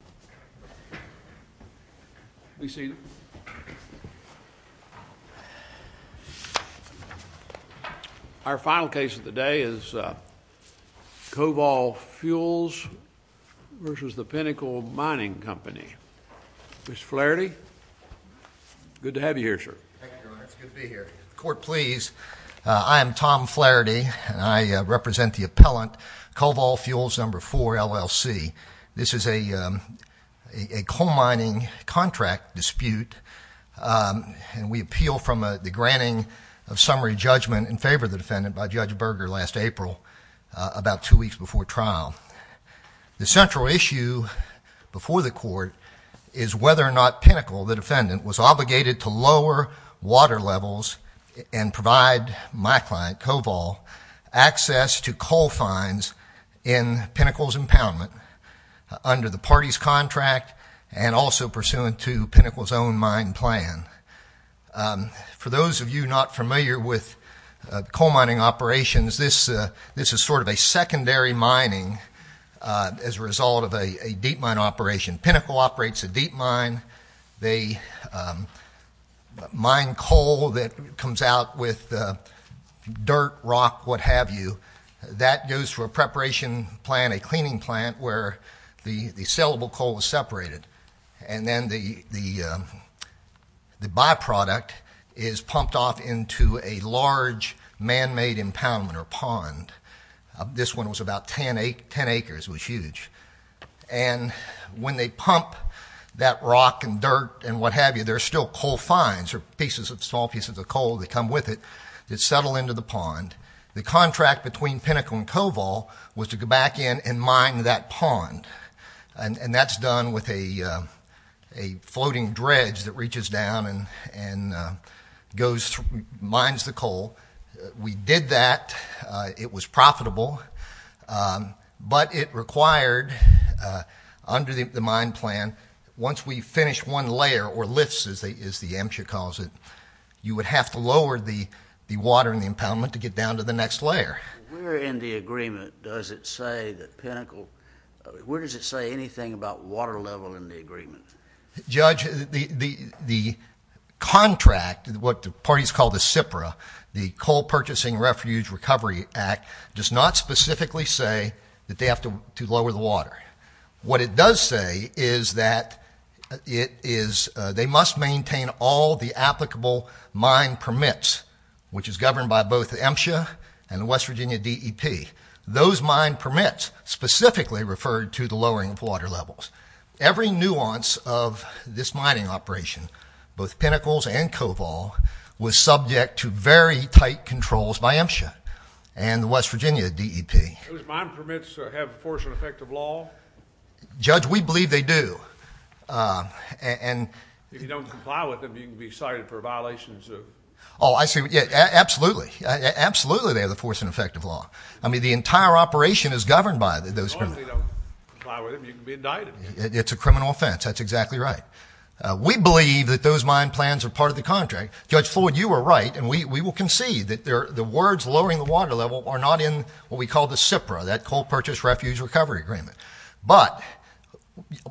Please be seated. Our final case of the day is Covol Fuels v. Pinnacle Mining Company. Mr. Flaherty, good to have you here, sir. Thank you, Your Honor. It's good to be here. Court, please. I am Tom Flaherty, and I represent the appellant, Covol Fuels No. 4, LLC. This is a coal mining contract dispute, and we appeal from the granting of summary judgment in favor of the defendant by Judge Berger last April, about two weeks before trial. The central issue before the court is whether or not Pinnacle, the defendant, was obligated to lower water levels and provide my client, Covol, access to coal finds in Pinnacle's impoundment under the party's contract and also pursuant to Pinnacle's own mine plan. For those of you not familiar with coal mining operations, this is sort of a secondary mining as a result of a deep mine operation. Pinnacle operates a deep mine. They mine coal that comes out with dirt, rock, what have you. That goes to a preparation plant, a cleaning plant, where the sellable coal is separated, and then the byproduct is pumped off into a large man-made impoundment or pond. This one was about 10 acres, was huge. And when they pump that rock and dirt and what have you, there are still coal finds or small pieces of coal that come with it that settle into the pond. The contract between Pinnacle and Covol was to go back in and mine that pond. And that's done with a floating dredge that reaches down and mines the coal. We did that. It was profitable. But it required, under the mine plan, once we finished one layer, or lifts, as the AMCHA calls it, you would have to lower the water in the impoundment to get down to the next layer. Where in the agreement does it say that Pinnacle, where does it say anything about water level in the agreement? Judge, the contract, what the parties call the CIPRA, the Coal Purchasing Refuge Recovery Act, does not specifically say that they have to lower the water. What it does say is that they must maintain all the applicable mine permits, which is governed by both AMCHA and the West Virginia DEP. Those mine permits specifically referred to the lowering of water levels. Every nuance of this mining operation, both Pinnacles and Covol, was subject to very tight controls by AMCHA and the West Virginia DEP. Those mine permits have force and effect of law? Judge, we believe they do. If you don't comply with them, you can be cited for a violation of the suit? Oh, absolutely. Absolutely they have the force and effect of law. I mean, the entire operation is governed by those permits. As long as you don't comply with them, you can be indicted. It's a criminal offense. That's exactly right. We believe that those mine plans are part of the contract. Judge Floyd, you were right, and we will concede that the words lowering the water level are not in what we call the CIPRA, that Coal Purchase Refuge Recovery Agreement. But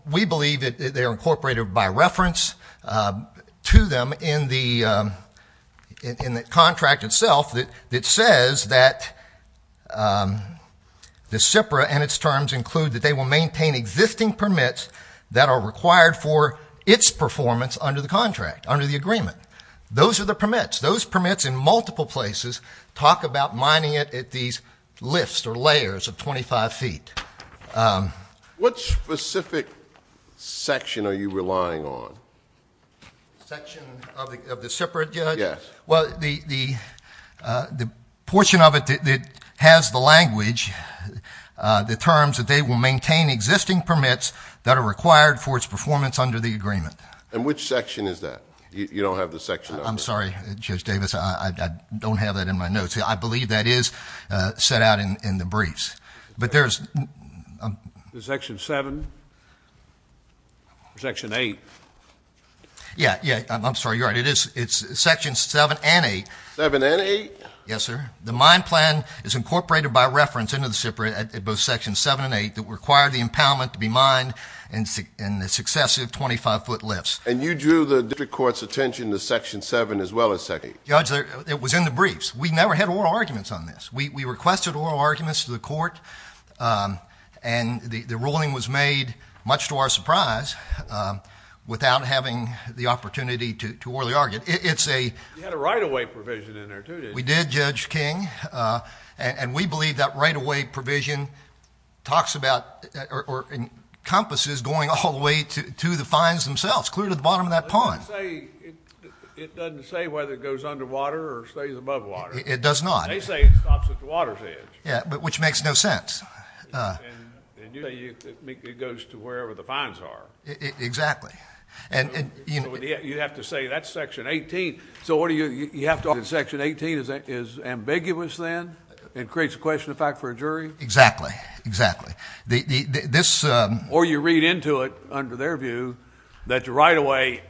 we believe that they are incorporated by reference to them in the contract itself that says that the CIPRA and its terms include that they will maintain existing permits that are required for its performance under the contract, under the agreement. Those are the permits. Those permits in multiple places talk about mining it at these lifts or layers of 25 feet. What specific section are you relying on? Section of the CIPRA, Judge? Yes. Well, the portion of it that has the language, the terms that they will maintain existing permits that are required for its performance under the agreement. And which section is that? You don't have the section number? I'm sorry, Judge Davis, I don't have that in my notes. I believe that is set out in the briefs. But there's- Is it section seven? Section eight? Yeah. Yeah. I'm sorry. You're right. It is. It's section seven and eight. Seven and eight? Yes, sir. The mine plan is incorporated by reference into the CIPRA at both section seven and eight that require the impoundment to be mined in the successive 25-foot lifts. And you drew the district court's attention to section seven as well as section eight? Judge, it was in the briefs. We never had oral arguments on this. We requested oral arguments to the court, and the ruling was made, much to our surprise, without having the opportunity to orally argue. It's a- You had a right-of-way provision in there, too, didn't you? We did, Judge King. And we believe that right-of-way provision talks about or encompasses going all the way to the finds themselves, clear to the bottom of that pond. It doesn't say whether it goes underwater or stays above water. It does not. They say it stops at the water's edge. Yeah, but which makes no sense. And you say it goes to wherever the finds are. Exactly. And- So you have to say that's section 18. So you have to argue that section 18 is ambiguous, then, and creates a question of fact for a jury? Exactly. Exactly. This- Or you read into it, under their view, that the right-of-way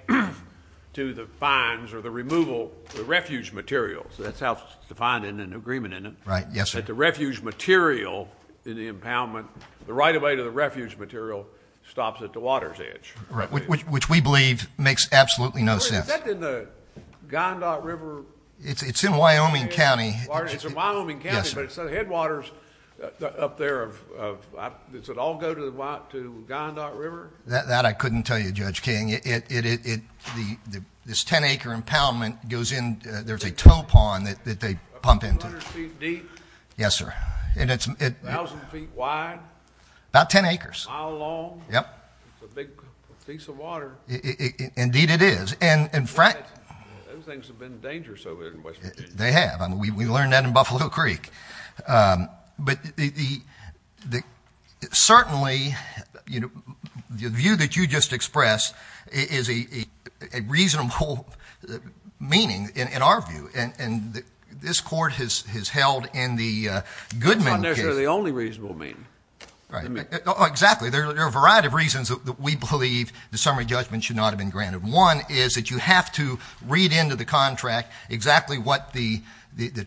to the finds or the removal, the refuge materials, that's how it's defined in an agreement, isn't it? Right. Yes, sir. That the refuge material in the impoundment, the right-of-way to the refuge material stops at the water's edge. Right. Which we believe makes absolutely no sense. Yes, sir. Is that in the Gondot River- It's in Wyoming County. It's in Wyoming County. Yes, sir. But it's the headwaters up there of- does it all go to the Gondot River? That I couldn't tell you, Judge King. This 10-acre impoundment goes in- there's a towpond that they pump into. A couple hundred feet deep? Yes, sir. And it's- A thousand feet wide? About 10 acres. A mile long? Yep. It's a big piece of water. Indeed, it is. Those things have been dangerous over there in West Virginia. They have. We learned that in Buffalo Creek. But certainly, the view that you just expressed is a reasonable meaning in our view, and this court has held in the Goodman case- That's not necessarily the only reasonable meaning. Right. Exactly. There are a variety of reasons that we believe the summary judgment should not have been that you have to read into the contract exactly what the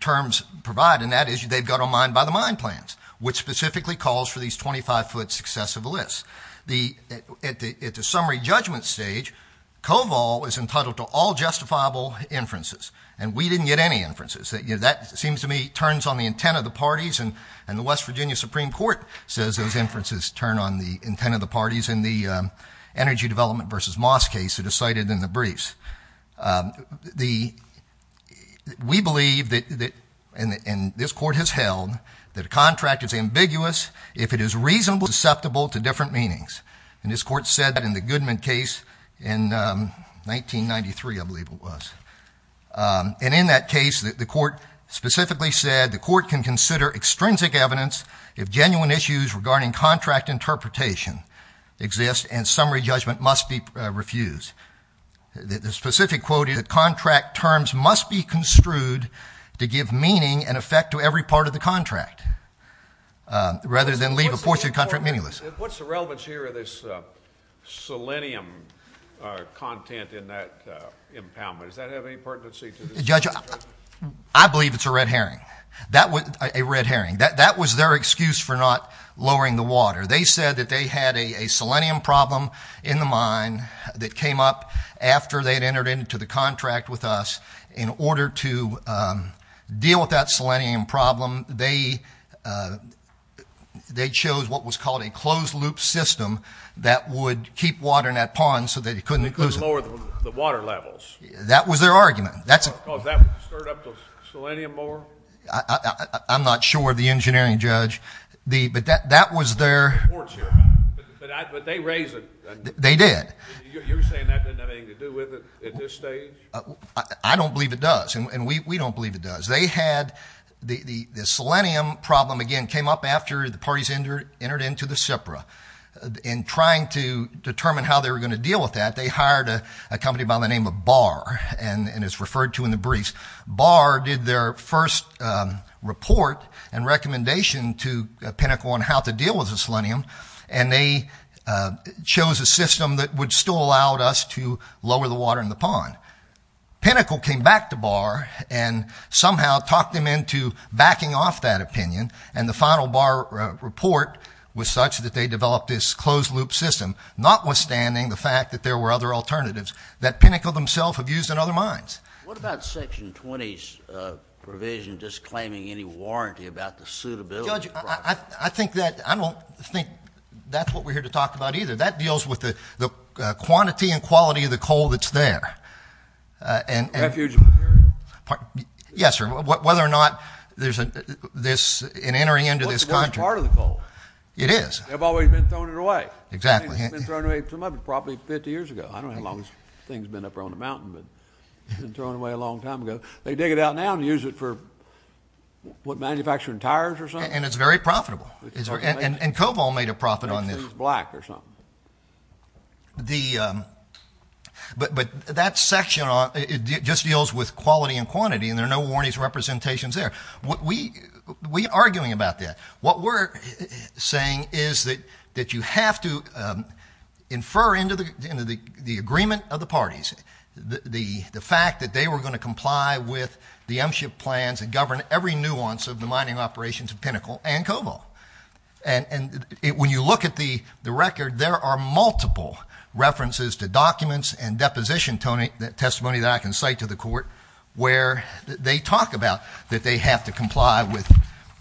terms provide, and that is they've got a mind by the mine plans, which specifically calls for these 25-foot successive lists. At the summary judgment stage, COVOL is entitled to all justifiable inferences, and we didn't get any inferences. That seems to me turns on the intent of the parties, and the West Virginia Supreme Court says those inferences turn on the intent of the parties in the energy development versus Moss case that is cited in the briefs. We believe that, and this court has held, that a contract is ambiguous if it is reasonably susceptible to different meanings, and this court said that in the Goodman case in 1993, I believe it was, and in that case, the court specifically said the court can consider extrinsic evidence if genuine issues regarding contract interpretation exist and summary judgment must be refused. The specific quote is that contract terms must be construed to give meaning and effect to every part of the contract, rather than leave a portion of the contract meaningless. What's the relevance here of this selenium content in that impoundment? Does that have any pertinency to the summary judgment? I believe it's a red herring, a red herring. That was their excuse for not lowering the water. They said that they had a selenium problem in the mine that came up after they had entered into the contract with us. In order to deal with that selenium problem, they chose what was called a closed-loop system that would keep water in that pond so that it couldn't lose it. They couldn't lower the water levels. That was their argument. Because that would stir up the selenium more? I'm not sure, the engineering judge. But that was their... But they raised it. They did. You're saying that didn't have anything to do with it at this stage? I don't believe it does, and we don't believe it does. They had the selenium problem, again, came up after the parties entered into the SIPRA. In trying to determine how they were going to deal with that, they hired a company by the name of Barr, and it's referred to in the briefs. Barr did their first report and recommendation to Pinnacle on how to deal with the selenium, and they chose a system that would still allow us to lower the water in the pond. Pinnacle came back to Barr and somehow talked them into backing off that opinion, and the final Barr report was such that they developed this closed-loop system, notwithstanding the fact that there were other alternatives that Pinnacle themselves have used in other mines. What about Section 20's provision disclaiming any warranty about the suitability of the project? Judge, I don't think that's what we're here to talk about either. That deals with the quantity and quality of the coal that's there, and... Refugee material? Yes, sir. Whether or not there's an entering into this country... Well, it's a good part of the coal. It is. They've always been throwing it away. Exactly. I mean, it's been thrown away too much. It was probably 50 years ago. I don't know how long this thing's been up here on the mountain, but it's been thrown away. It's been thrown away a long time ago. They dig it out now and use it for, what, manufacturing tires or something? And it's very profitable. And Coval made a profit on this. It's black or something. But that section just deals with quality and quantity, and there are no warranties representations there. We're arguing about that. What we're saying is that you have to infer into the agreement of the parties the fact that they were going to comply with the M-SHIP plans and govern every nuance of the mining operations of Pinnacle and Coval. And when you look at the record, there are multiple references to documents and deposition testimony that I can cite to the court where they talk about that they have to comply with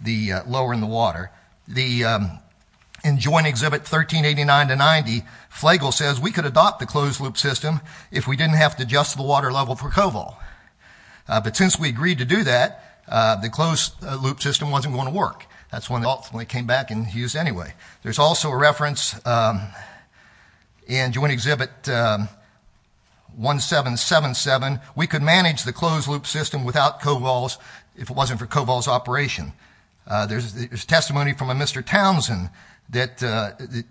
the lower in the water. The... In Joint Exhibit 1389-90, Flagle says we could adopt the closed-loop system if we didn't have to adjust the water level for Coval. But since we agreed to do that, the closed-loop system wasn't going to work. That's when it ultimately came back and was used anyway. There's also a reference in Joint Exhibit 1777. We could manage the closed-loop system without Coval's... if it wasn't for Coval's operation. There's testimony from a Mr. Townsend that the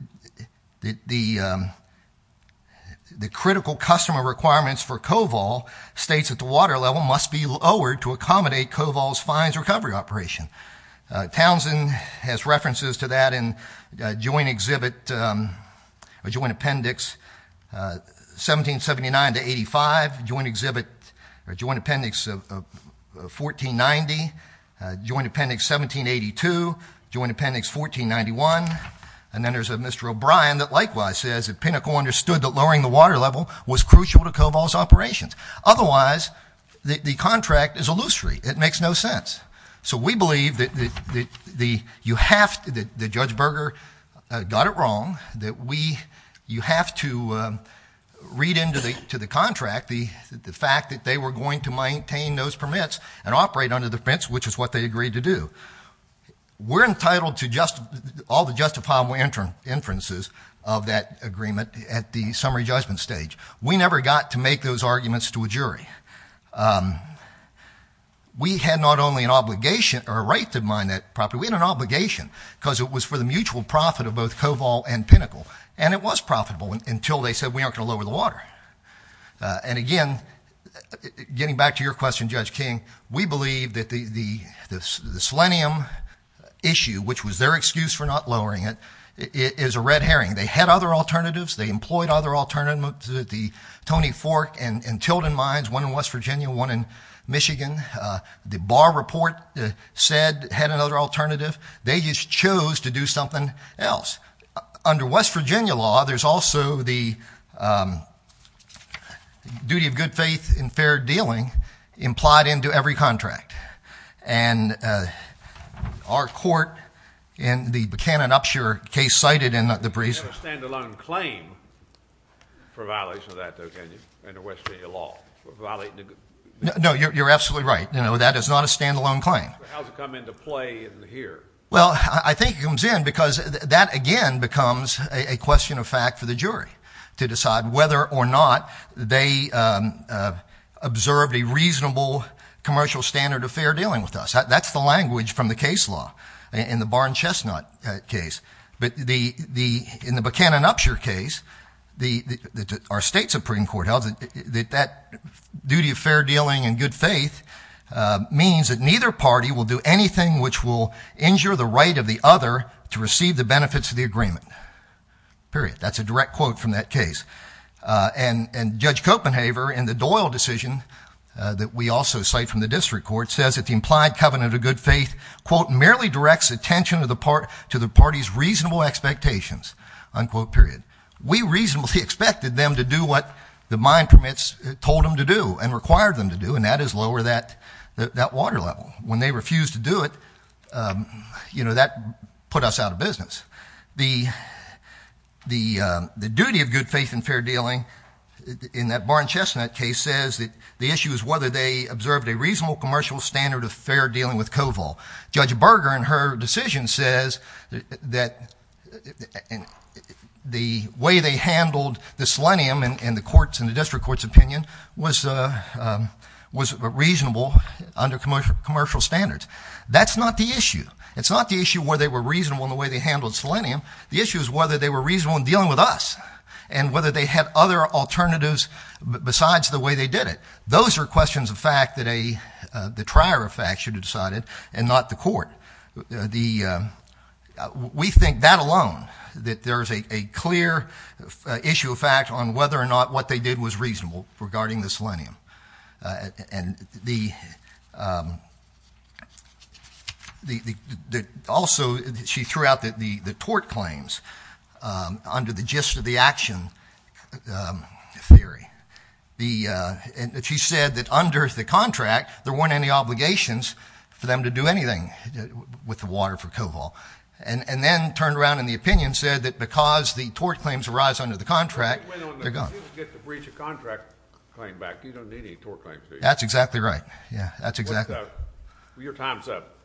critical customer requirements for Coval states that the water level must be lowered to accommodate Coval's fines recovery operation. Townsend has references to that in Joint Appendix 1779-85, Joint Appendix 1490, Joint Appendix 1782, Joint Appendix 1491. And then there's a Mr. O'Brien that likewise says that Pinnacle understood that lowering the water level was crucial to Coval's operations. Otherwise, the contract is illusory. It makes no sense. So we believe that Judge Berger got it wrong, that you have to read into the contract the fact that they were going to maintain those permits and operate under the fence, which is what they agreed to do. We're entitled to all the justifiable inferences of that agreement at the summary judgment stage. We never got to make those arguments to a jury. We had not only an obligation, or a right to mine that property, we had an obligation. because it was for the mutual profit of both Coval and Pinnacle. And it was profitable until they said we aren't going to lower the water. And again, getting back to your question, Judge King, we believe that the selenium issue, which was their excuse for not lowering it, is a red herring. They had other alternatives. They employed other alternatives. The Tony Fork and Tilden Mines, one in West Virginia, one in Michigan. The Bar Report said it had another alternative. They just chose to do something else. Under West Virginia law, there's also the duty of good faith and fair dealing implied into every contract. And our court in the Buchanan-Upshur case cited in the- You have a stand-alone claim for violation of that though, can you, under West Virginia law, for violating the- No, you're absolutely right, that is not a stand-alone claim. How does it come into play in here? Well, I think it comes in because that again becomes a question of fact for the jury to decide whether or not they observed a reasonable commercial standard of fair dealing with us. That's the language from the case law in the Barn-Chestnut case. But in the Buchanan-Upshur case, our state Supreme Court held that that duty of fair dealing and good faith means that neither party will do anything which will injure the right of the other to receive the benefits of the agreement, period. That's a direct quote from that case. And Judge Copenhaver, in the Doyle decision that we also cite from the district court, says that the implied covenant of good faith, quote, merely directs attention to the party's reasonable expectations, unquote, period. We reasonably expected them to do what the mine permits told them to do and required them to do, and that is lower that water level. When they refused to do it, that put us out of business. The duty of good faith and fair dealing in that Barn-Chestnut case says that the issue is whether they observed a reasonable commercial standard of fair dealing with COVOL. Judge Berger, in her decision, says that the way they handled the selenium in the district court's opinion was reasonable under commercial standards. That's not the issue. It's not the issue whether they were reasonable in the way they handled selenium. The issue is whether they were reasonable in dealing with us and whether they had other alternatives besides the way they did it. Those are questions of fact that the trier of fact should have decided and not the court. We think that alone, that there's a clear issue of fact on whether or not what they did was reasonable regarding the selenium, and also she threw out the tort claims under the gist of the action theory. And she said that under the contract, there weren't any obligations for them to do anything with the water for COVOL. And then turned around in the opinion, said that because the tort claims arise under the contract, they're gone. You get the breach of contract claim back, you don't need any tort claims. That's exactly right. Yeah, that's exactly right. Your time's up.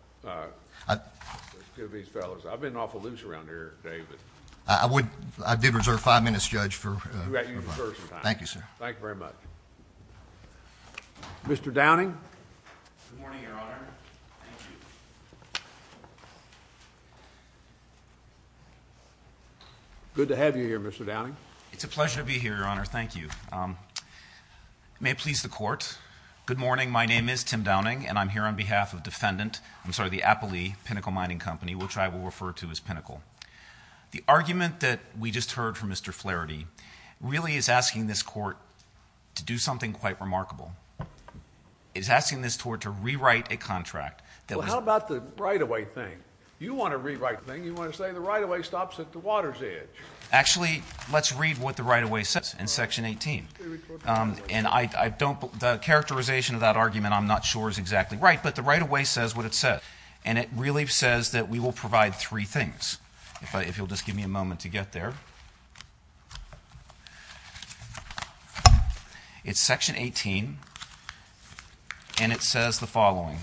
I've been an awful loser around here, David. I did reserve five minutes, Judge, for- You got your recursive time. Thank you, sir. Thank you very much. Mr. Downing? Good morning, Your Honor. Thank you. Good to have you here, Mr. Downing. It's a pleasure to be here, Your Honor. Thank you. May it please the court, good morning. My name is Tim Downing, and I'm here on behalf of defendant, I'm sorry, the Appley Pinnacle Mining Company, which I will refer to as Pinnacle. The argument that we just heard from Mr. Flaherty really is asking this court to do something quite remarkable. It's asking this court to rewrite a contract that was- Well, how about the right-of-way thing? You want a rewrite thing. You want to say the right-of-way stops at the water's edge. Actually, let's read what the right-of-way says in Section 18. And I don't, the characterization of that argument, I'm not sure is exactly right, but the right-of-way says what it says. And it really says that we will provide three things. If you'll just give me a moment to get there. It's Section 18, and it says the following.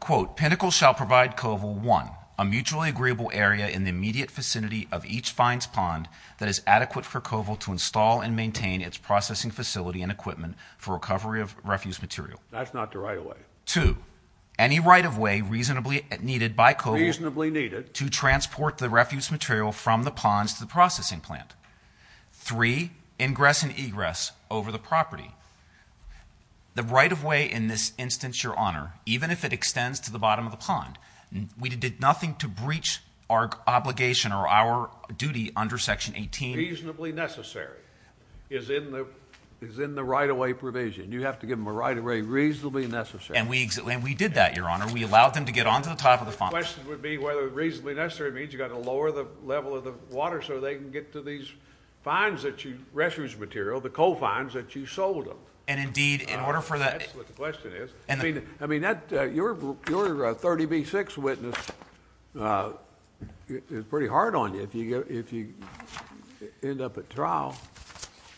Quote, Pinnacle shall provide COVIL, one, a mutually agreeable area in the immediate vicinity of each fines pond that is adequate for COVIL to install and maintain its processing facility and equipment for recovery of refuse material. That's not the right-of-way. Two, any right-of-way reasonably needed by COVIL- To transport the refuse material from the ponds to the processing plant. Three, ingress and egress over the property. The right-of-way in this instance, Your Honor, even if it extends to the bottom of the pond, we did nothing to breach our obligation or our duty under Section 18. Reasonably necessary is in the right-of-way provision. You have to give them a right-of-way reasonably necessary. And we did that, Your Honor. We allowed them to get onto the top of the pond. The question would be whether reasonably necessary means you've got to lower the level of the water so they can get to these fines that you... refuse material, the coal fines that you sold them. And indeed, in order for the... That's what the question is. I mean, that... your 30B6 witness is pretty hard on you if you end up at trial.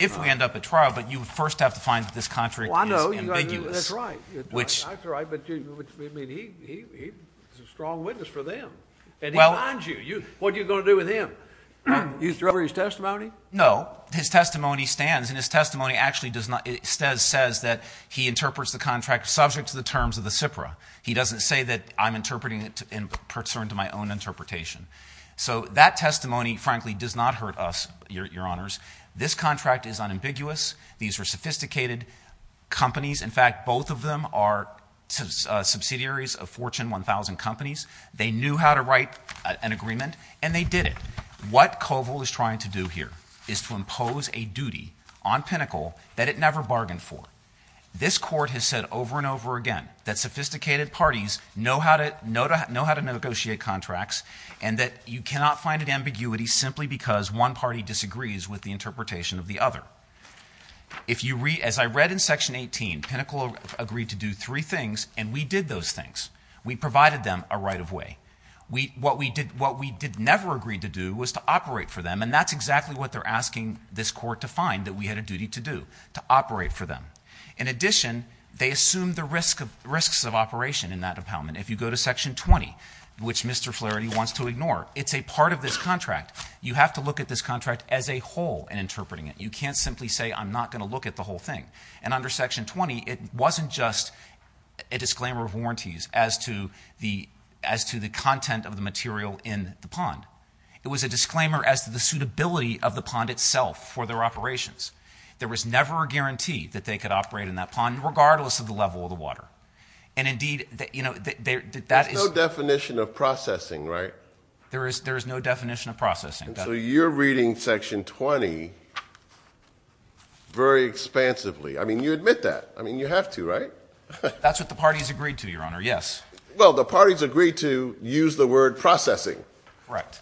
If we end up at trial, but you first have to find that this contract is ambiguous. Well, I know. That's right. Which... Well... And he finds you. What are you going to do with him? You throw over his testimony? No. His testimony stands. And his testimony actually does not... It says... says that he interprets the contract subject to the terms of the SIPRA. He doesn't say that I'm interpreting it in concern to my own interpretation. So, that testimony, frankly, does not hurt us, Your Honors. This contract is unambiguous. These are sophisticated companies. In fact, both of them are subsidiaries of Fortune 1000 Companies. They knew how to write an agreement, and they did it. What COVIL is trying to do here is to impose a duty on Pinnacle that it never bargained for. This Court has said over and over again that sophisticated parties know how to negotiate contracts, and that you cannot find an ambiguity simply because one party disagrees with the interpretation of the other. If you read... as I read in Section 18, Pinnacle agreed to do three things, and we did those things. We provided them a right-of-way. What we did... what we did never agree to do was to operate for them, and that's exactly what they're asking this Court to find that we had a duty to do, to operate for them. In addition, they assume the risks of operation in that department. If you go to Section 20, which Mr. Flaherty wants to ignore, it's a part of this contract. You have to look at this contract as a whole in interpreting it. You can't simply say, I'm not going to look at the whole thing. And under Section 20, it wasn't just a disclaimer of warranties as to the content of the material in the pond. It was a disclaimer as to the suitability of the pond itself for their operations. There was never a guarantee that they could operate in that pond, regardless of the level of the water. And indeed, that is... There's no definition of processing, right? There is no definition of processing. So you're reading Section 20 very expansively. I mean, you admit that. I mean, you have to, right? That's what the parties agreed to, Your Honor. Yes. Well, the parties agreed to use the word processing.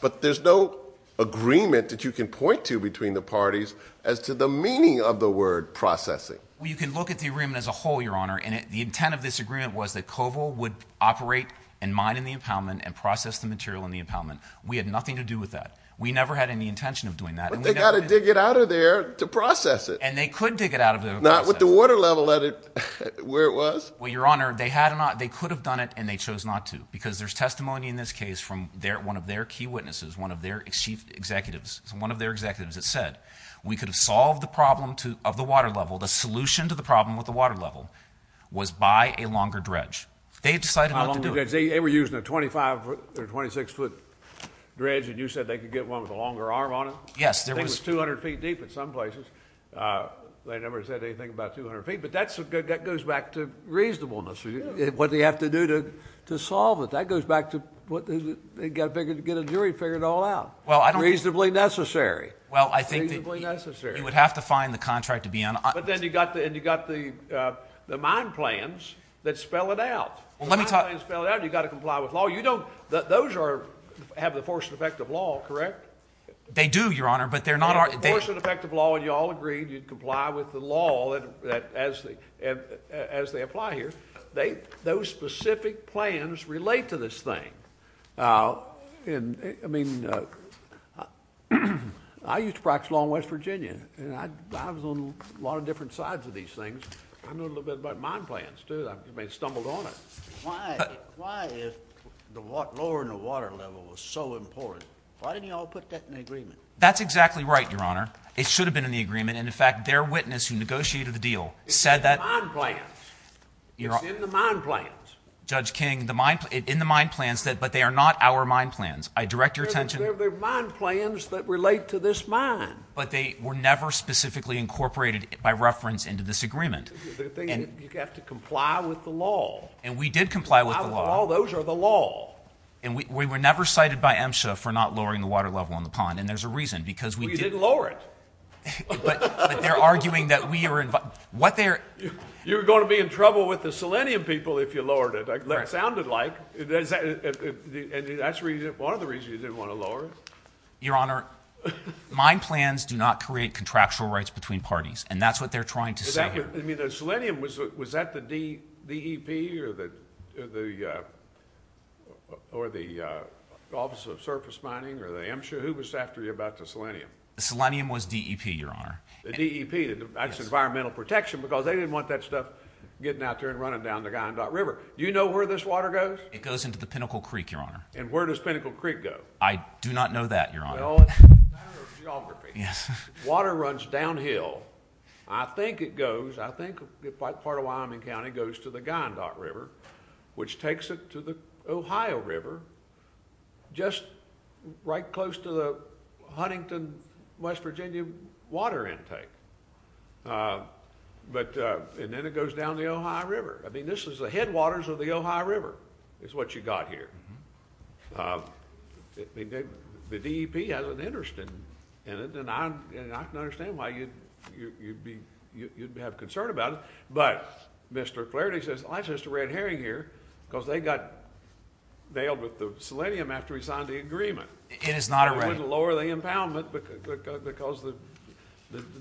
But there's no agreement that you can point to between the parties as to the meaning of the word processing. Well, you can look at the agreement as a whole, Your Honor, and the intent of this agreement was that COVIL would operate and mine in the impoundment, and process the material in the impoundment. We had nothing to do with that. We never had any intention of doing that. But they got to dig it out of there to process it. And they could dig it out of there to process it. Not with the water level at it, where it was. Well, Your Honor, they could have done it, and they chose not to, because there's testimony in this case from one of their key witnesses, one of their chief executives, one of their executives, that said we could have solved the problem of the water level. The solution to the problem with the water level was buy a longer dredge. They decided not to do it. They were using a 25 or 26-foot dredge, and you said they could get one with a longer arm on it? Yes. I think it was 200 feet deep in some places. They never said anything about 200 feet. But that goes back to reasonableness, what they have to do to solve it. That goes back to get a jury to figure it all out. Reasonably necessary. Well, I think that you would have to find the contract to be on it. But then you got the mine plans that spell it out. The mine plans spell it out, and you got to comply with law. Those have the force and effect of law, correct? They do, Your Honor, but they're not... Force and effect of law, and you all agreed you'd comply with the law as they apply here. Those specific plans relate to this thing. I used to practice law in West Virginia, and I was on a lot of different sides of these things. I know a little bit about mine plans, too. I may have stumbled on it. Why if the water... lower than the water level was so important? Why didn't you all put that in the agreement? That's exactly right, Your Honor. It should have been in the agreement, and in fact, their witness who negotiated the deal said that... It's in the mine plans. It's in the mine plans. Judge King, in the mine plans, but they are not our mine plans. I direct your attention... They're mine plans that relate to this mine. But they were never specifically incorporated by reference into this agreement. You have to comply with the law. And we did comply with the law. Those are the law. And we were never cited by MSHA for not lowering the water level on the pond, and there's a reason, because we did... Well, you didn't lower it. But they're arguing that we are... You were going to be in trouble with the Selenium people if you lowered it. That's what it sounded like, and that's one of the reasons you didn't want to lower it. Your Honor, mine plans do not create contractual rights between parties, and that's what they're trying to say here. Selenium, was that the DEP, or the Office of Surface Mining, or the MSHA? Who was after you about the Selenium? Selenium was DEP, Your Honor. The DEP, that's Environmental Protection, because they didn't want that stuff getting out there and running down the Guyandot River. Do you know where this water goes? It goes into the Pinnacle Creek, Your Honor. And where does Pinnacle Creek go? I do not know that, Your Honor. Well, it's a matter of geography. Water runs downhill. I think it goes, I think part of Wyoming County goes to the Guyandot River, which takes it to the Ohio River, just right close to the Huntington, West Virginia water intake. But, and then it goes down the Ohio River. I mean, this is the headwaters of the Ohio River, is what you got here. The DEP has an interest in it, and I can understand why you'd be, you'd have concern about it. But, Mr. Flaherty says, well, that's just a red herring here, because they got bailed with the Selenium after we signed the agreement. It is not a red herring. I wouldn't lower the impoundment, because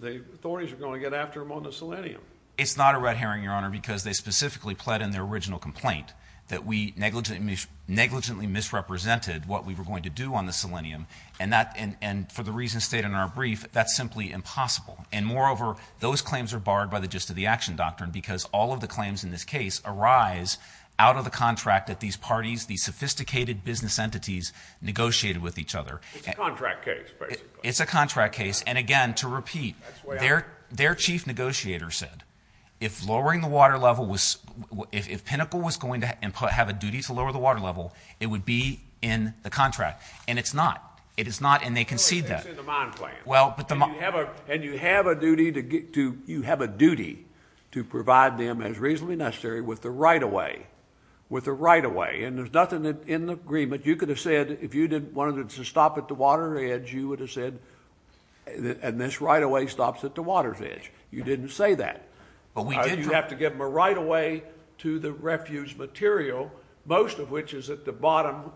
the authorities are going to get after them on the Selenium. It's not a red herring, Your Honor, because they specifically pled in their original complaint, that we negligently misrepresented what we were going to do on the Selenium. And for the reasons stated in our brief, that's simply impossible. And moreover, those claims are barred by the gist of the action doctrine, because all of the claims in this case arise out of the contract that these parties, these sophisticated business entities, negotiated with each other. It's a contract case, basically. It's a contract case. And again, to repeat, their chief negotiator said, if lowering the water level was, if Pinnacle was going to have a duty to lower the water level, it would be in the contract. And it's not. It is not, and they concede that. Well, it's in the mine plan. Well, but the mine. And you have a duty to, you have a duty to provide them, as reasonably necessary, with the right-of-way. With the right-of-way. And there's nothing in the agreement. You could have said, if you wanted to stop at the water's edge, you would have said, and this right-of-way stops at the water's edge. You didn't say that. You have to give them a right-of-way to the refuge material, most of which is at the bottom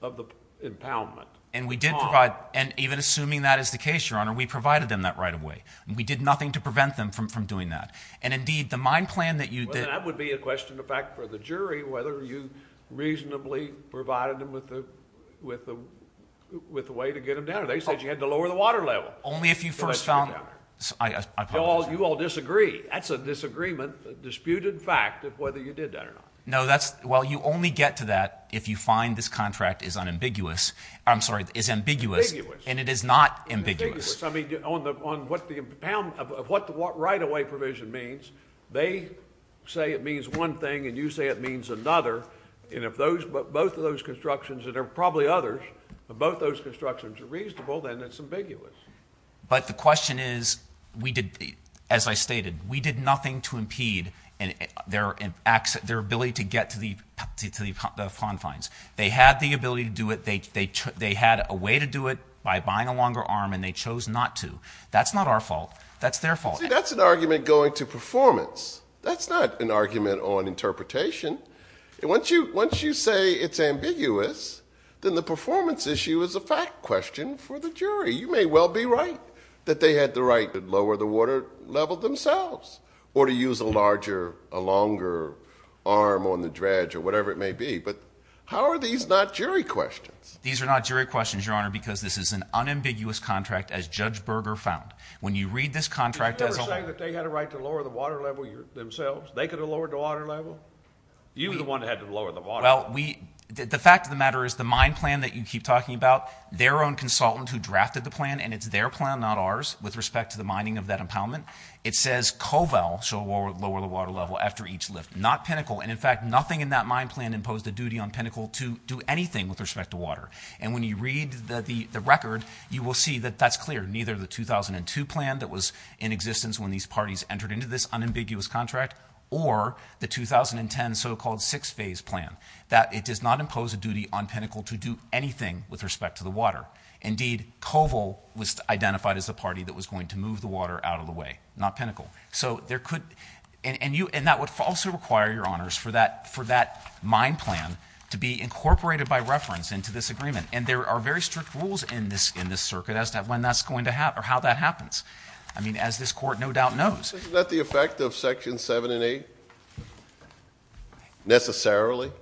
of the impoundment pond. And we did provide, and even assuming that is the case, Your Honor, we provided them that right-of-way. We did nothing to prevent them from doing that. And, indeed, the mine plan that you did. Well, that would be a question, in fact, for the jury, whether you reasonably provided them with the way to get them down. They said you had to lower the water level. Only if you first found. To let you down. I apologize. You all disagree. That's a disagreement, a disputed fact, of whether you did that or not. No, that's, well, you only get to that if you find this contract is unambiguous. I'm sorry, is ambiguous. Ambiguous. And it is not ambiguous. Ambiguous. I mean, on what the impound, of what the right-of-way provision means, they say it means one thing, and you say it means another. And if those, both of those constructions, and there are probably others, if both those constructions are reasonable, then it's ambiguous. But the question is, we did, as I stated, we did nothing to impede their ability to get to the confines. They had the ability to do it. They had a way to do it by buying a longer arm, and they chose not to. That's not our fault. That's their fault. See, that's an argument going to performance. That's not an argument on interpretation. Once you say it's ambiguous, then the performance issue is a fact question for the jury. You may well be right that they had the right to lower the water level themselves or to use a larger, a longer arm on the dredge or whatever it may be. But how are these not jury questions? These are not jury questions, Your Honor, because this is an unambiguous contract, as Judge Berger found. When you read this contract as a— You were the one that had to lower the water level. Well, we—the fact of the matter is the mine plan that you keep talking about, their own consultant who drafted the plan, and it's their plan, not ours, with respect to the mining of that impoundment. It says Covell shall lower the water level after each lift, not Pinnacle. And, in fact, nothing in that mine plan imposed a duty on Pinnacle to do anything with respect to water. And when you read the record, you will see that that's clear. Neither the 2002 plan that was in existence when these parties entered into this unambiguous contract or the 2010 so-called six-phase plan, that it does not impose a duty on Pinnacle to do anything with respect to the water. Indeed, Covell was identified as the party that was going to move the water out of the way, not Pinnacle. So there could—and that would also require, Your Honors, for that mine plan to be incorporated by reference into this agreement. And there are very strict rules in this circuit as to when that's going to—or how that happens. I mean, as this court no doubt knows. Isn't that the effect of Section 7 and 8 necessarily?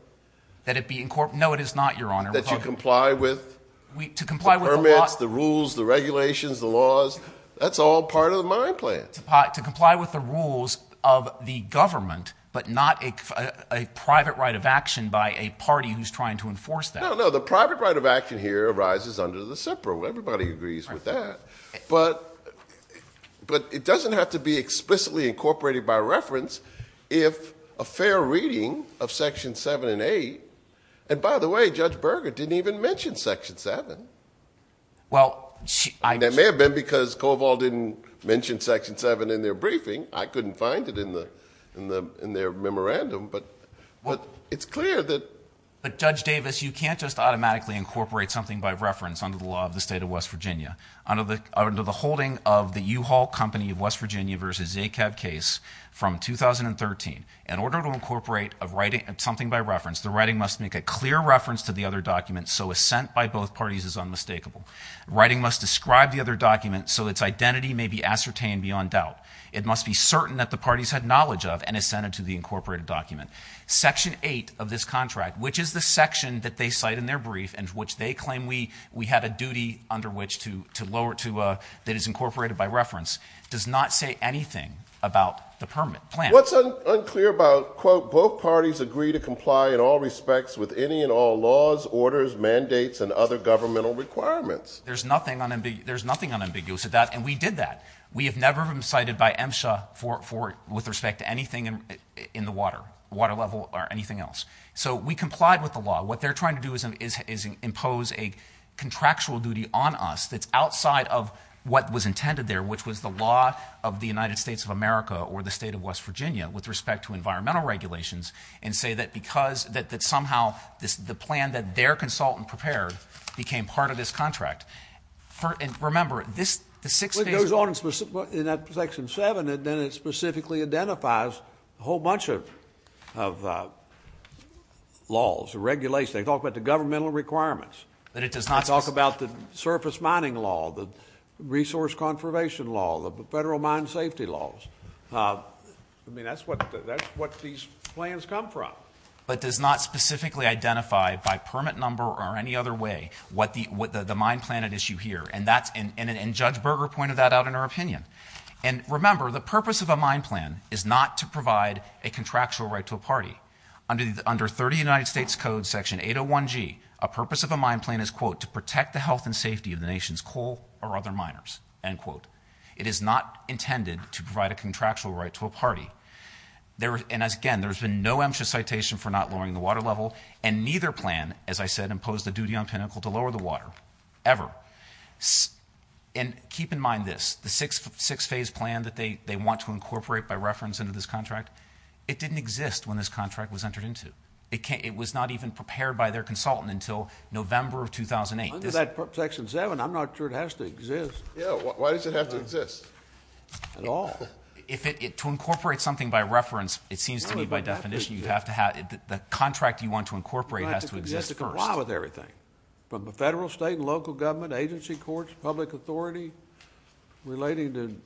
That it be—no, it is not, Your Honor. That you comply with the permits, the rules, the regulations, the laws? That's all part of the mine plan. To comply with the rules of the government but not a private right of action by a party who's trying to enforce that. No, no, the private right of action here arises under the SIPRA. Everybody agrees with that. But it doesn't have to be explicitly incorporated by reference if a fair reading of Section 7 and 8— and by the way, Judge Berger didn't even mention Section 7. Well, she— That may have been because Covell didn't mention Section 7 in their briefing. I couldn't find it in their memorandum. But it's clear that— It can't just automatically incorporate something by reference under the law of the state of West Virginia. Under the holding of the U-Haul Company of West Virginia v. ACAB case from 2013, in order to incorporate something by reference, the writing must make a clear reference to the other document so assent by both parties is unmistakable. Writing must describe the other document so its identity may be ascertained beyond doubt. It must be certain that the parties had knowledge of and assented to the incorporated document. Section 8 of this contract, which is the section that they cite in their brief and which they claim we had a duty under which to lower to—that is incorporated by reference, does not say anything about the permit plan. What's unclear about, quote, both parties agree to comply in all respects with any and all laws, orders, mandates, and other governmental requirements? There's nothing unambiguous about—and we did that. We have never been cited by MSHA with respect to anything in the water, water level or anything else. So we complied with the law. What they're trying to do is impose a contractual duty on us that's outside of what was intended there, which was the law of the United States of America or the state of West Virginia with respect to environmental regulations and say that somehow the plan that their consultant prepared became part of this contract. Remember, this—the six days— It goes on in that section 7, and then it specifically identifies a whole bunch of laws, regulations. They talk about the governmental requirements. But it does not— They talk about the surface mining law, the resource conservation law, the federal mine safety laws. I mean, that's what these plans come from. But does not specifically identify by permit number or any other way what the mine plan at issue here. And Judge Berger pointed that out in her opinion. And remember, the purpose of a mine plan is not to provide a contractual right to a party. Under 30 United States Code Section 801G, a purpose of a mine plan is, quote, to protect the health and safety of the nation's coal or other miners, end quote. It is not intended to provide a contractual right to a party. And again, there's been no MSHA citation for not lowering the water level. And neither plan, as I said, imposed the duty on Pinnacle to lower the water, ever. And keep in mind this, the six-phase plan that they want to incorporate by reference into this contract, it didn't exist when this contract was entered into. It was not even prepared by their consultant until November of 2008. Under that Section 7, I'm not sure it has to exist. Yeah, why does it have to exist at all? To incorporate something by reference, it seems to me by definition, the contract you want to incorporate has to exist first. It has to comply with everything, from the federal, state, and local government, agency, courts, public authority, relating to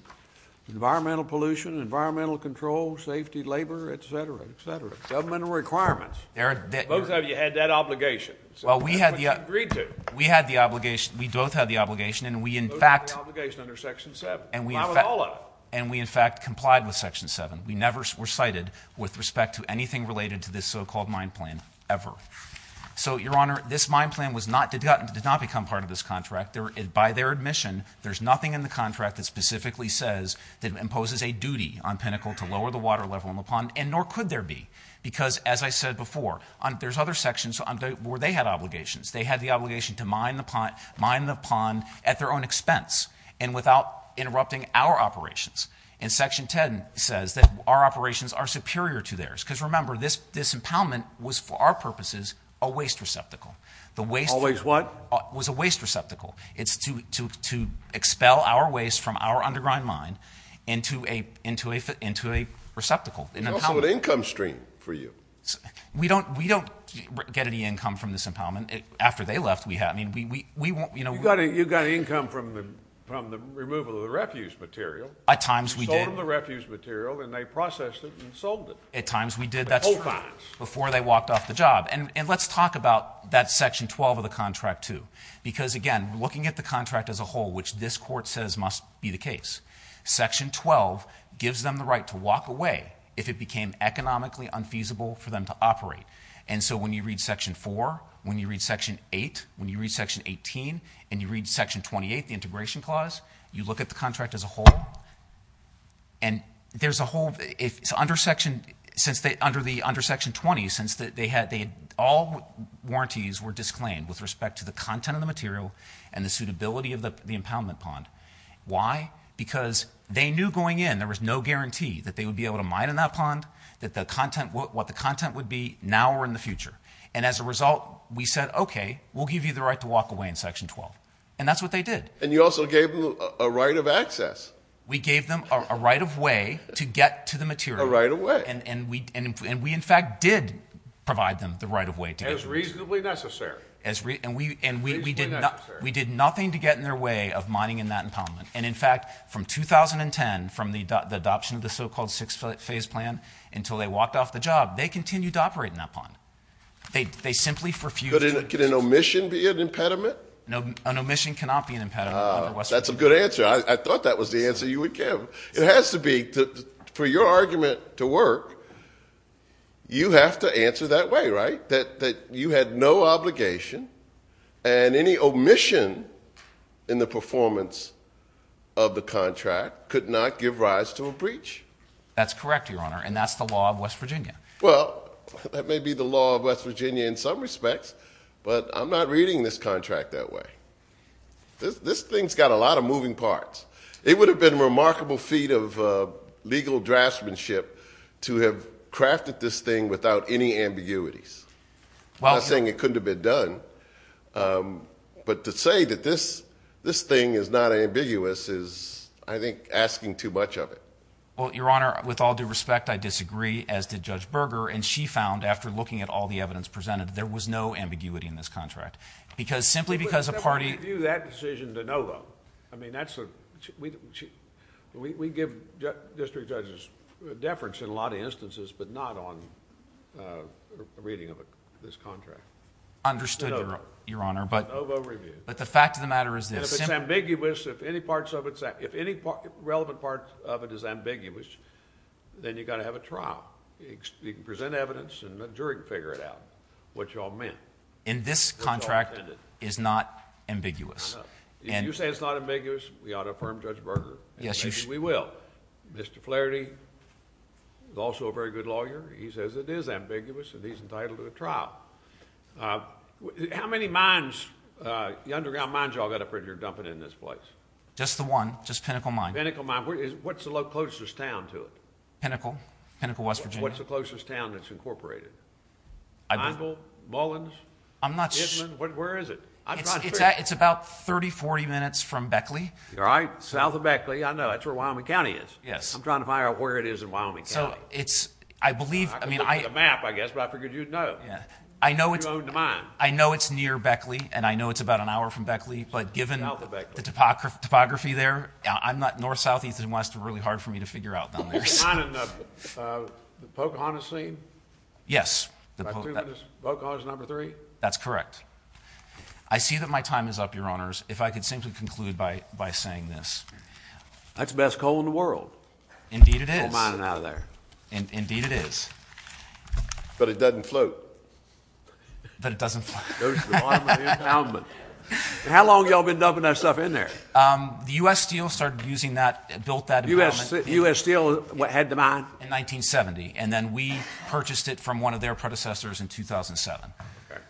environmental pollution, environmental control, safety, labor, et cetera, et cetera. Governmental requirements. Both of you had that obligation. Well, we had the obligation. We both had the obligation, and we in fact – Both had the obligation under Section 7. Not with all of it. And we in fact complied with Section 7. We never were cited with respect to anything related to this so-called mine plan, ever. So, Your Honor, this mine plan did not become part of this contract. By their admission, there's nothing in the contract that specifically says that it imposes a duty on Pinnacle to lower the water level in the pond, and nor could there be. Because, as I said before, there's other sections where they had obligations. They had the obligation to mine the pond at their own expense, and without interrupting our operations. And Section 10 says that our operations are superior to theirs. Because, remember, this impoundment was, for our purposes, a waste receptacle. Always what? It was a waste receptacle. It's to expel our waste from our underground mine into a receptacle. It's also an income stream for you. We don't get any income from this impoundment. After they left, we – You got income from the removal of the refuse material. At times we did. We sold them the refuse material, and they processed it and sold it. At times we did. At all times. Before they walked off the job. And let's talk about that Section 12 of the contract, too. Because, again, looking at the contract as a whole, which this Court says must be the case, Section 12 gives them the right to walk away if it became economically unfeasible for them to operate. And so when you read Section 4, when you read Section 8, when you read Section 18, and you read Section 28, the integration clause, you look at the contract as a whole. And there's a whole – under Section 20, since they had – all warranties were disclaimed with respect to the content of the material and the suitability of the impoundment pond. Why? Because they knew going in there was no guarantee that they would be able to mine in that pond, that the content – what the content would be now or in the future. And as a result, we said, okay, we'll give you the right to walk away in Section 12. And that's what they did. And you also gave them a right of access. We gave them a right of way to get to the material. A right of way. And we, in fact, did provide them the right of way to get to it. As reasonably necessary. And we did nothing to get in their way of mining in that impoundment. And, in fact, from 2010, from the adoption of the so-called six-phase plan until they walked off the job, they continued to operate in that pond. They simply refused. Could an omission be an impediment? An omission cannot be an impediment. That's a good answer. I thought that was the answer you would give. It has to be. For your argument to work, you have to answer that way, right, that you had no obligation and any omission in the performance of the contract could not give rise to a breach. That's correct, Your Honor, and that's the law of West Virginia. Well, that may be the law of West Virginia in some respects, but I'm not reading this contract that way. This thing's got a lot of moving parts. It would have been a remarkable feat of legal draftsmanship to have crafted this thing without any ambiguities. I'm not saying it couldn't have been done, but to say that this thing is not ambiguous is, I think, asking too much of it. Well, Your Honor, with all due respect, I disagree, as did Judge Berger, and she found, after looking at all the evidence presented, that there was no ambiguity in this contract because simply because a party... We would never review that decision to know, though. I mean, we give district judges deference in a lot of instances, but not on a reading of this contract. Understood, Your Honor, but... No vote review. But the fact of the matter is this... If it's ambiguous, if any relevant part of it is ambiguous, then you've got to have a trial. You can present evidence and the jury can figure it out what you all meant. And this contract is not ambiguous. I know. If you say it's not ambiguous, we ought to affirm Judge Berger, and maybe we will. Mr. Flaherty is also a very good lawyer. He says it is ambiguous, and he's entitled to a trial. How many mines, the underground mines you all got up here dumping in this place? Just the one, just Pinnacle Mine. Pinnacle Mine. What's the closest town to it? Pinnacle. Pinnacle, West Virginia. What's the closest town that's incorporated? I don't... Angle? Mullins? I'm not... Island? Where is it? It's about 30, 40 minutes from Beckley. All right. South of Beckley, I know. That's where Wyoming County is. Yes. I'm trying to find out where it is in Wyoming County. So it's... I believe... I could look at the map, I guess, but I figured you'd know. Yeah. You own the mine. I know it's near Beckley, and I know it's about an hour from Beckley. But given... South of Beckley.... the topography there, I'm not north, south, east, and west. It's really hard for me to figure out down there. The Pocahontas scene? Yes. Pocahontas number three? That's correct. I see that my time is up, Your Honors. If I could simply conclude by saying this... That's the best coal in the world. Indeed it is. No mining out of there. Indeed it is. But it doesn't float. But it doesn't float. It goes to the bottom of the impoundment. How long have you all been dumping that stuff in there? The U.S. Steel started using that, built that... U.S. Steel had the mine? In 1970. And then we purchased it from one of their predecessors in 2007. Okay.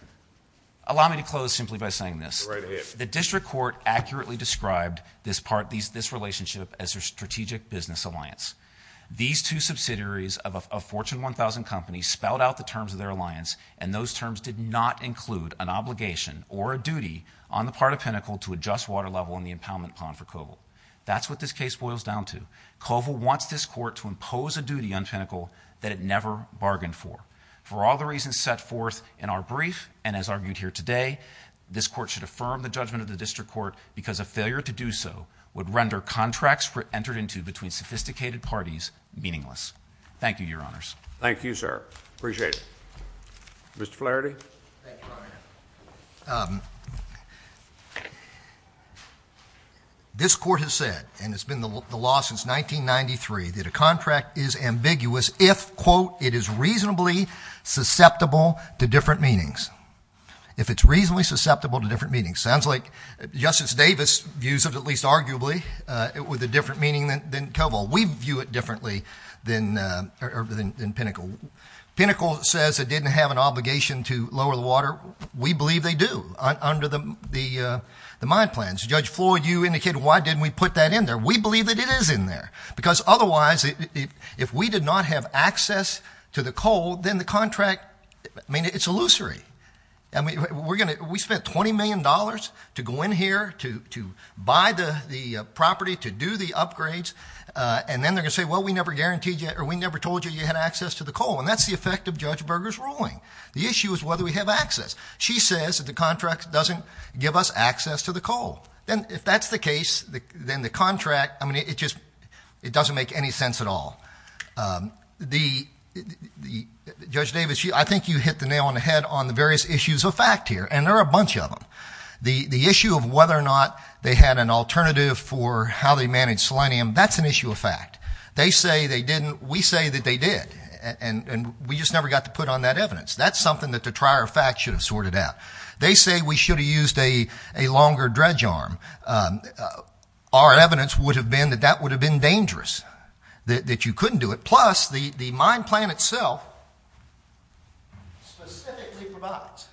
Allow me to close simply by saying this. Go right ahead. The district court accurately described this part, this relationship, as their strategic business alliance. These two subsidiaries of a Fortune 1000 company spelled out the terms of their alliance, and those terms did not include an obligation or a duty on the part of Pinnacle to adjust water level in the impoundment pond for Covill. That's what this case boils down to. Covill wants this court to impose a duty on Pinnacle that it never bargained for. For all the reasons set forth in our brief, and as argued here today, this court should affirm the judgment of the district court because a failure to do so would render contracts entered into between sophisticated parties meaningless. Thank you, Your Honors. Thank you, sir. Appreciate it. Mr. Flaherty? Thank you, Your Honor. This court has said, and it's been the law since 1993, that a contract is ambiguous if, quote, it is reasonably susceptible to different meanings. If it's reasonably susceptible to different meanings. Sounds like Justice Davis views it, at least arguably, with a different meaning than Covill. We view it differently than Pinnacle. Pinnacle says it didn't have an obligation to lower the water. We believe they do under the mine plans. Judge Floyd, you indicated why didn't we put that in there. We believe that it is in there because otherwise if we did not have access to the coal, then the contract, I mean, it's illusory. We spent $20 million to go in here to buy the property, to do the upgrades, and then they're going to say, well, we never told you you had access to the coal, and that's the effect of Judge Berger's ruling. The issue is whether we have access. She says that the contract doesn't give us access to the coal. If that's the case, then the contract, I mean, it just doesn't make any sense at all. Judge Davis, I think you hit the nail on the head on the various issues of fact here, and there are a bunch of them. The issue of whether or not they had an alternative for how they managed selenium, that's an issue of fact. They say they didn't. We say that they did, and we just never got to put on that evidence. That's something that the trier of fact should have sorted out. They say we should have used a longer dredge arm. Our evidence would have been that that would have been dangerous, that you couldn't do it, plus the mine plan itself specifically provides.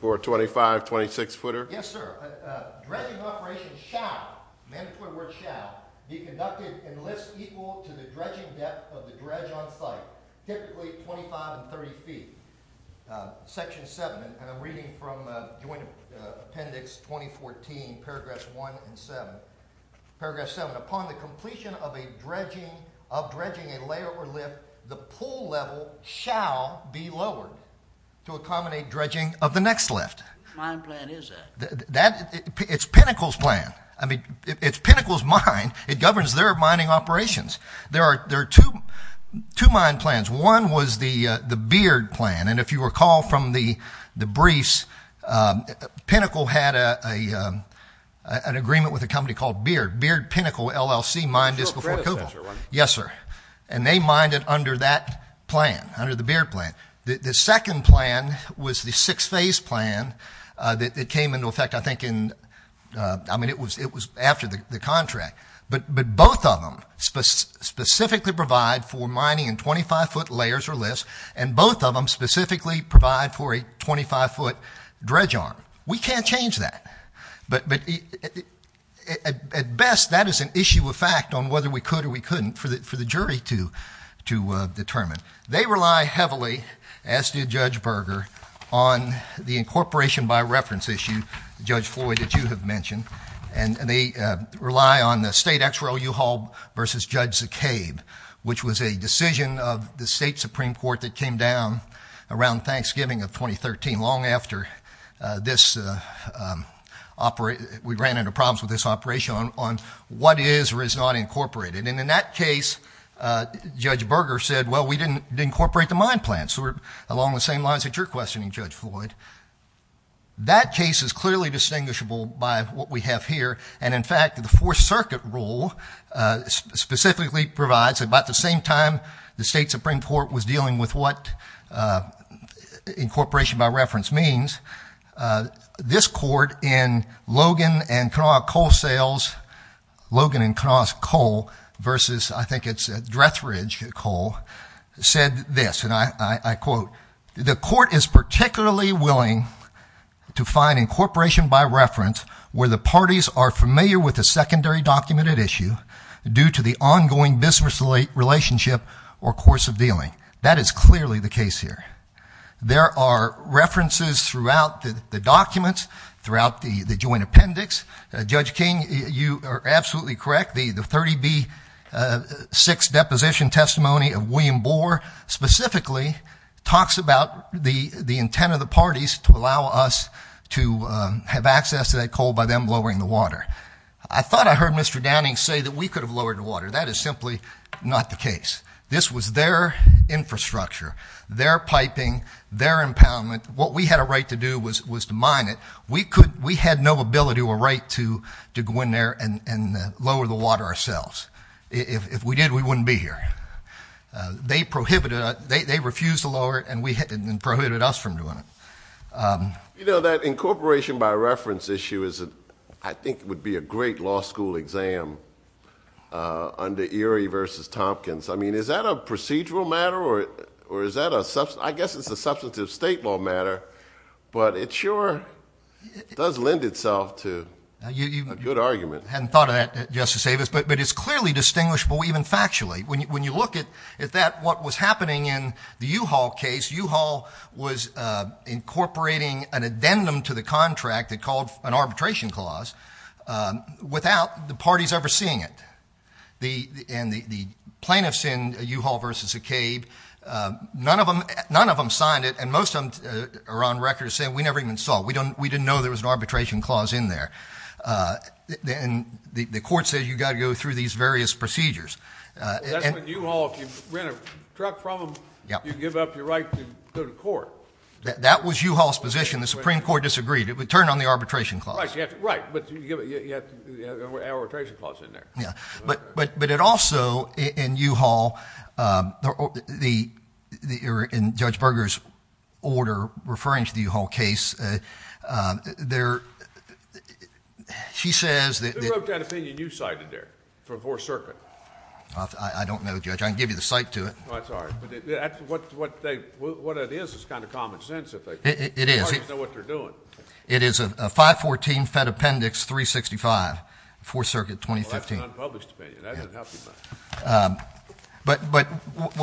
425, 26 footer. Yes, sir. Dredging operation shall, mandatory word shall, be conducted in lifts equal to the dredging depth of the dredge on site, typically 25 and 30 feet. Section 7, and I'm reading from Joint Appendix 2014, paragraphs 1 and 7. Paragraph 7, upon the completion of a dredging, of dredging a layover lift, the pool level shall be lowered to accommodate dredging of the next lift. Mine plan is that. It's Pinnacle's plan. I mean, it's Pinnacle's mine. It governs their mining operations. There are two mine plans. One was the Beard plan, and if you recall from the briefs, Pinnacle had an agreement with a company called Beard. Beard Pinnacle, LLC, mined this before Cobol. Yes, sir. And they mined it under that plan, under the Beard plan. The second plan was the six-phase plan that came into effect, I think, in, I mean, it was after the contract. But both of them specifically provide for mining in 25-foot layers or lifts, and both of them specifically provide for a 25-foot dredge arm. We can't change that. But at best, that is an issue of fact on whether we could or we couldn't for the jury to determine. They rely heavily, as did Judge Berger, on the incorporation by reference issue, Judge Floyd, that you have mentioned, and they rely on the state XRO-U-Haul versus Judge Zacaib, which was a decision of the state Supreme Court that came down around Thanksgiving of 2013, long after we ran into problems with this operation on what is or is not incorporated. And in that case, Judge Berger said, well, we didn't incorporate the mine plan. So we're along the same lines that you're questioning, Judge Floyd. That case is clearly distinguishable by what we have here, and, in fact, the Fourth Circuit rule specifically provides, about the same time the state Supreme Court was dealing with what incorporation by reference means, this court in Logan and Kanawha Coal Sales, Logan and Kanawha's coal versus, I think it's Drethridge Coal, said this, and I quote, the court is particularly willing to find incorporation by reference where the parties are familiar with a secondary documented issue due to the ongoing business relationship or course of dealing. That is clearly the case here. There are references throughout the documents, throughout the joint appendix. Judge King, you are absolutely correct. The 30B-6 deposition testimony of William Boer specifically talks about the intent of the parties to allow us to have access to that coal by them lowering the water. I thought I heard Mr. Downing say that we could have lowered the water. That is simply not the case. This was their infrastructure, their piping, their impoundment. What we had a right to do was to mine it. We had no ability or right to go in there and lower the water ourselves. If we did, we wouldn't be here. They refused to lower it and prohibited us from doing it. You know, that incorporation by reference issue I think would be a great law school exam under Erie v. Tompkins. Is that a procedural matter or is that a substantive state law matter? But it sure does lend itself to a good argument. I hadn't thought of that, Justice Davis, but it's clearly distinguishable even factually. When you look at what was happening in the U-Haul case, U-Haul was incorporating an addendum to the contract they called an arbitration clause without the parties ever seeing it. And the plaintiffs in U-Haul v. Acabe, none of them signed it, and most of them are on record as saying, we never even saw it, we didn't know there was an arbitration clause in there. And the court says you've got to go through these various procedures. That's when U-Haul, if you rent a truck from them, you give up your right to go to court. That was U-Haul's position. The Supreme Court disagreed. It would turn on the arbitration clause. Right, but you have to have an arbitration clause in there. But it also, in U-Haul, in Judge Berger's order referring to the U-Haul case, she says that Who wrote that opinion you cited there for 4th Circuit? I don't know, Judge. I can give you the cite to it. Well, that's all right. But what it is is kind of common sense. It is. The parties know what they're doing. It is a 514 Fed Appendix 365, 4th Circuit, 2015. Well, that's an unpublished opinion. That doesn't help you much. But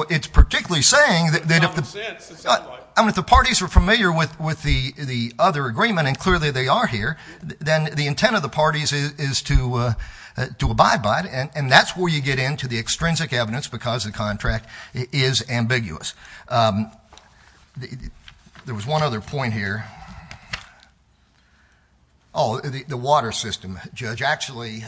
it's particularly saying that It's common sense, it sounds like. I mean, if the parties are familiar with the other agreement, and clearly they are here, then the intent of the parties is to abide by it. And that's where you get into the extrinsic evidence because the contract is ambiguous. There was one other point here. Oh, the water system, Judge. Actually,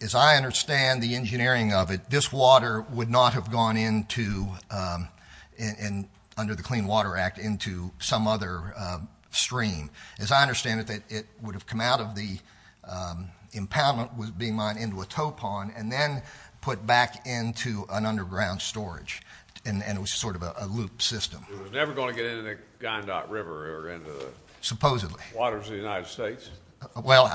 as I understand the engineering of it, this water would not have gone into, under the Clean Water Act, into some other stream. As I understand it, it would have come out of the impoundment being mined into a towpond and then put back into an underground storage. And it was sort of a loop system. It was never going to get into the Gandot River or into the waters of the United States? Well,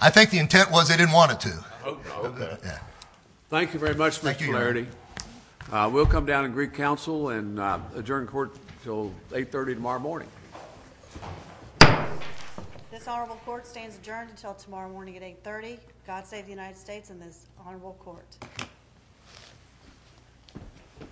I think the intent was they didn't want it to. Oh, okay. Thank you very much, Mr. Clarity. We'll come down and greet counsel and adjourn court until 8.30 tomorrow morning. This honorable court stands adjourned until tomorrow morning at 8.30. God save the United States and this honorable court.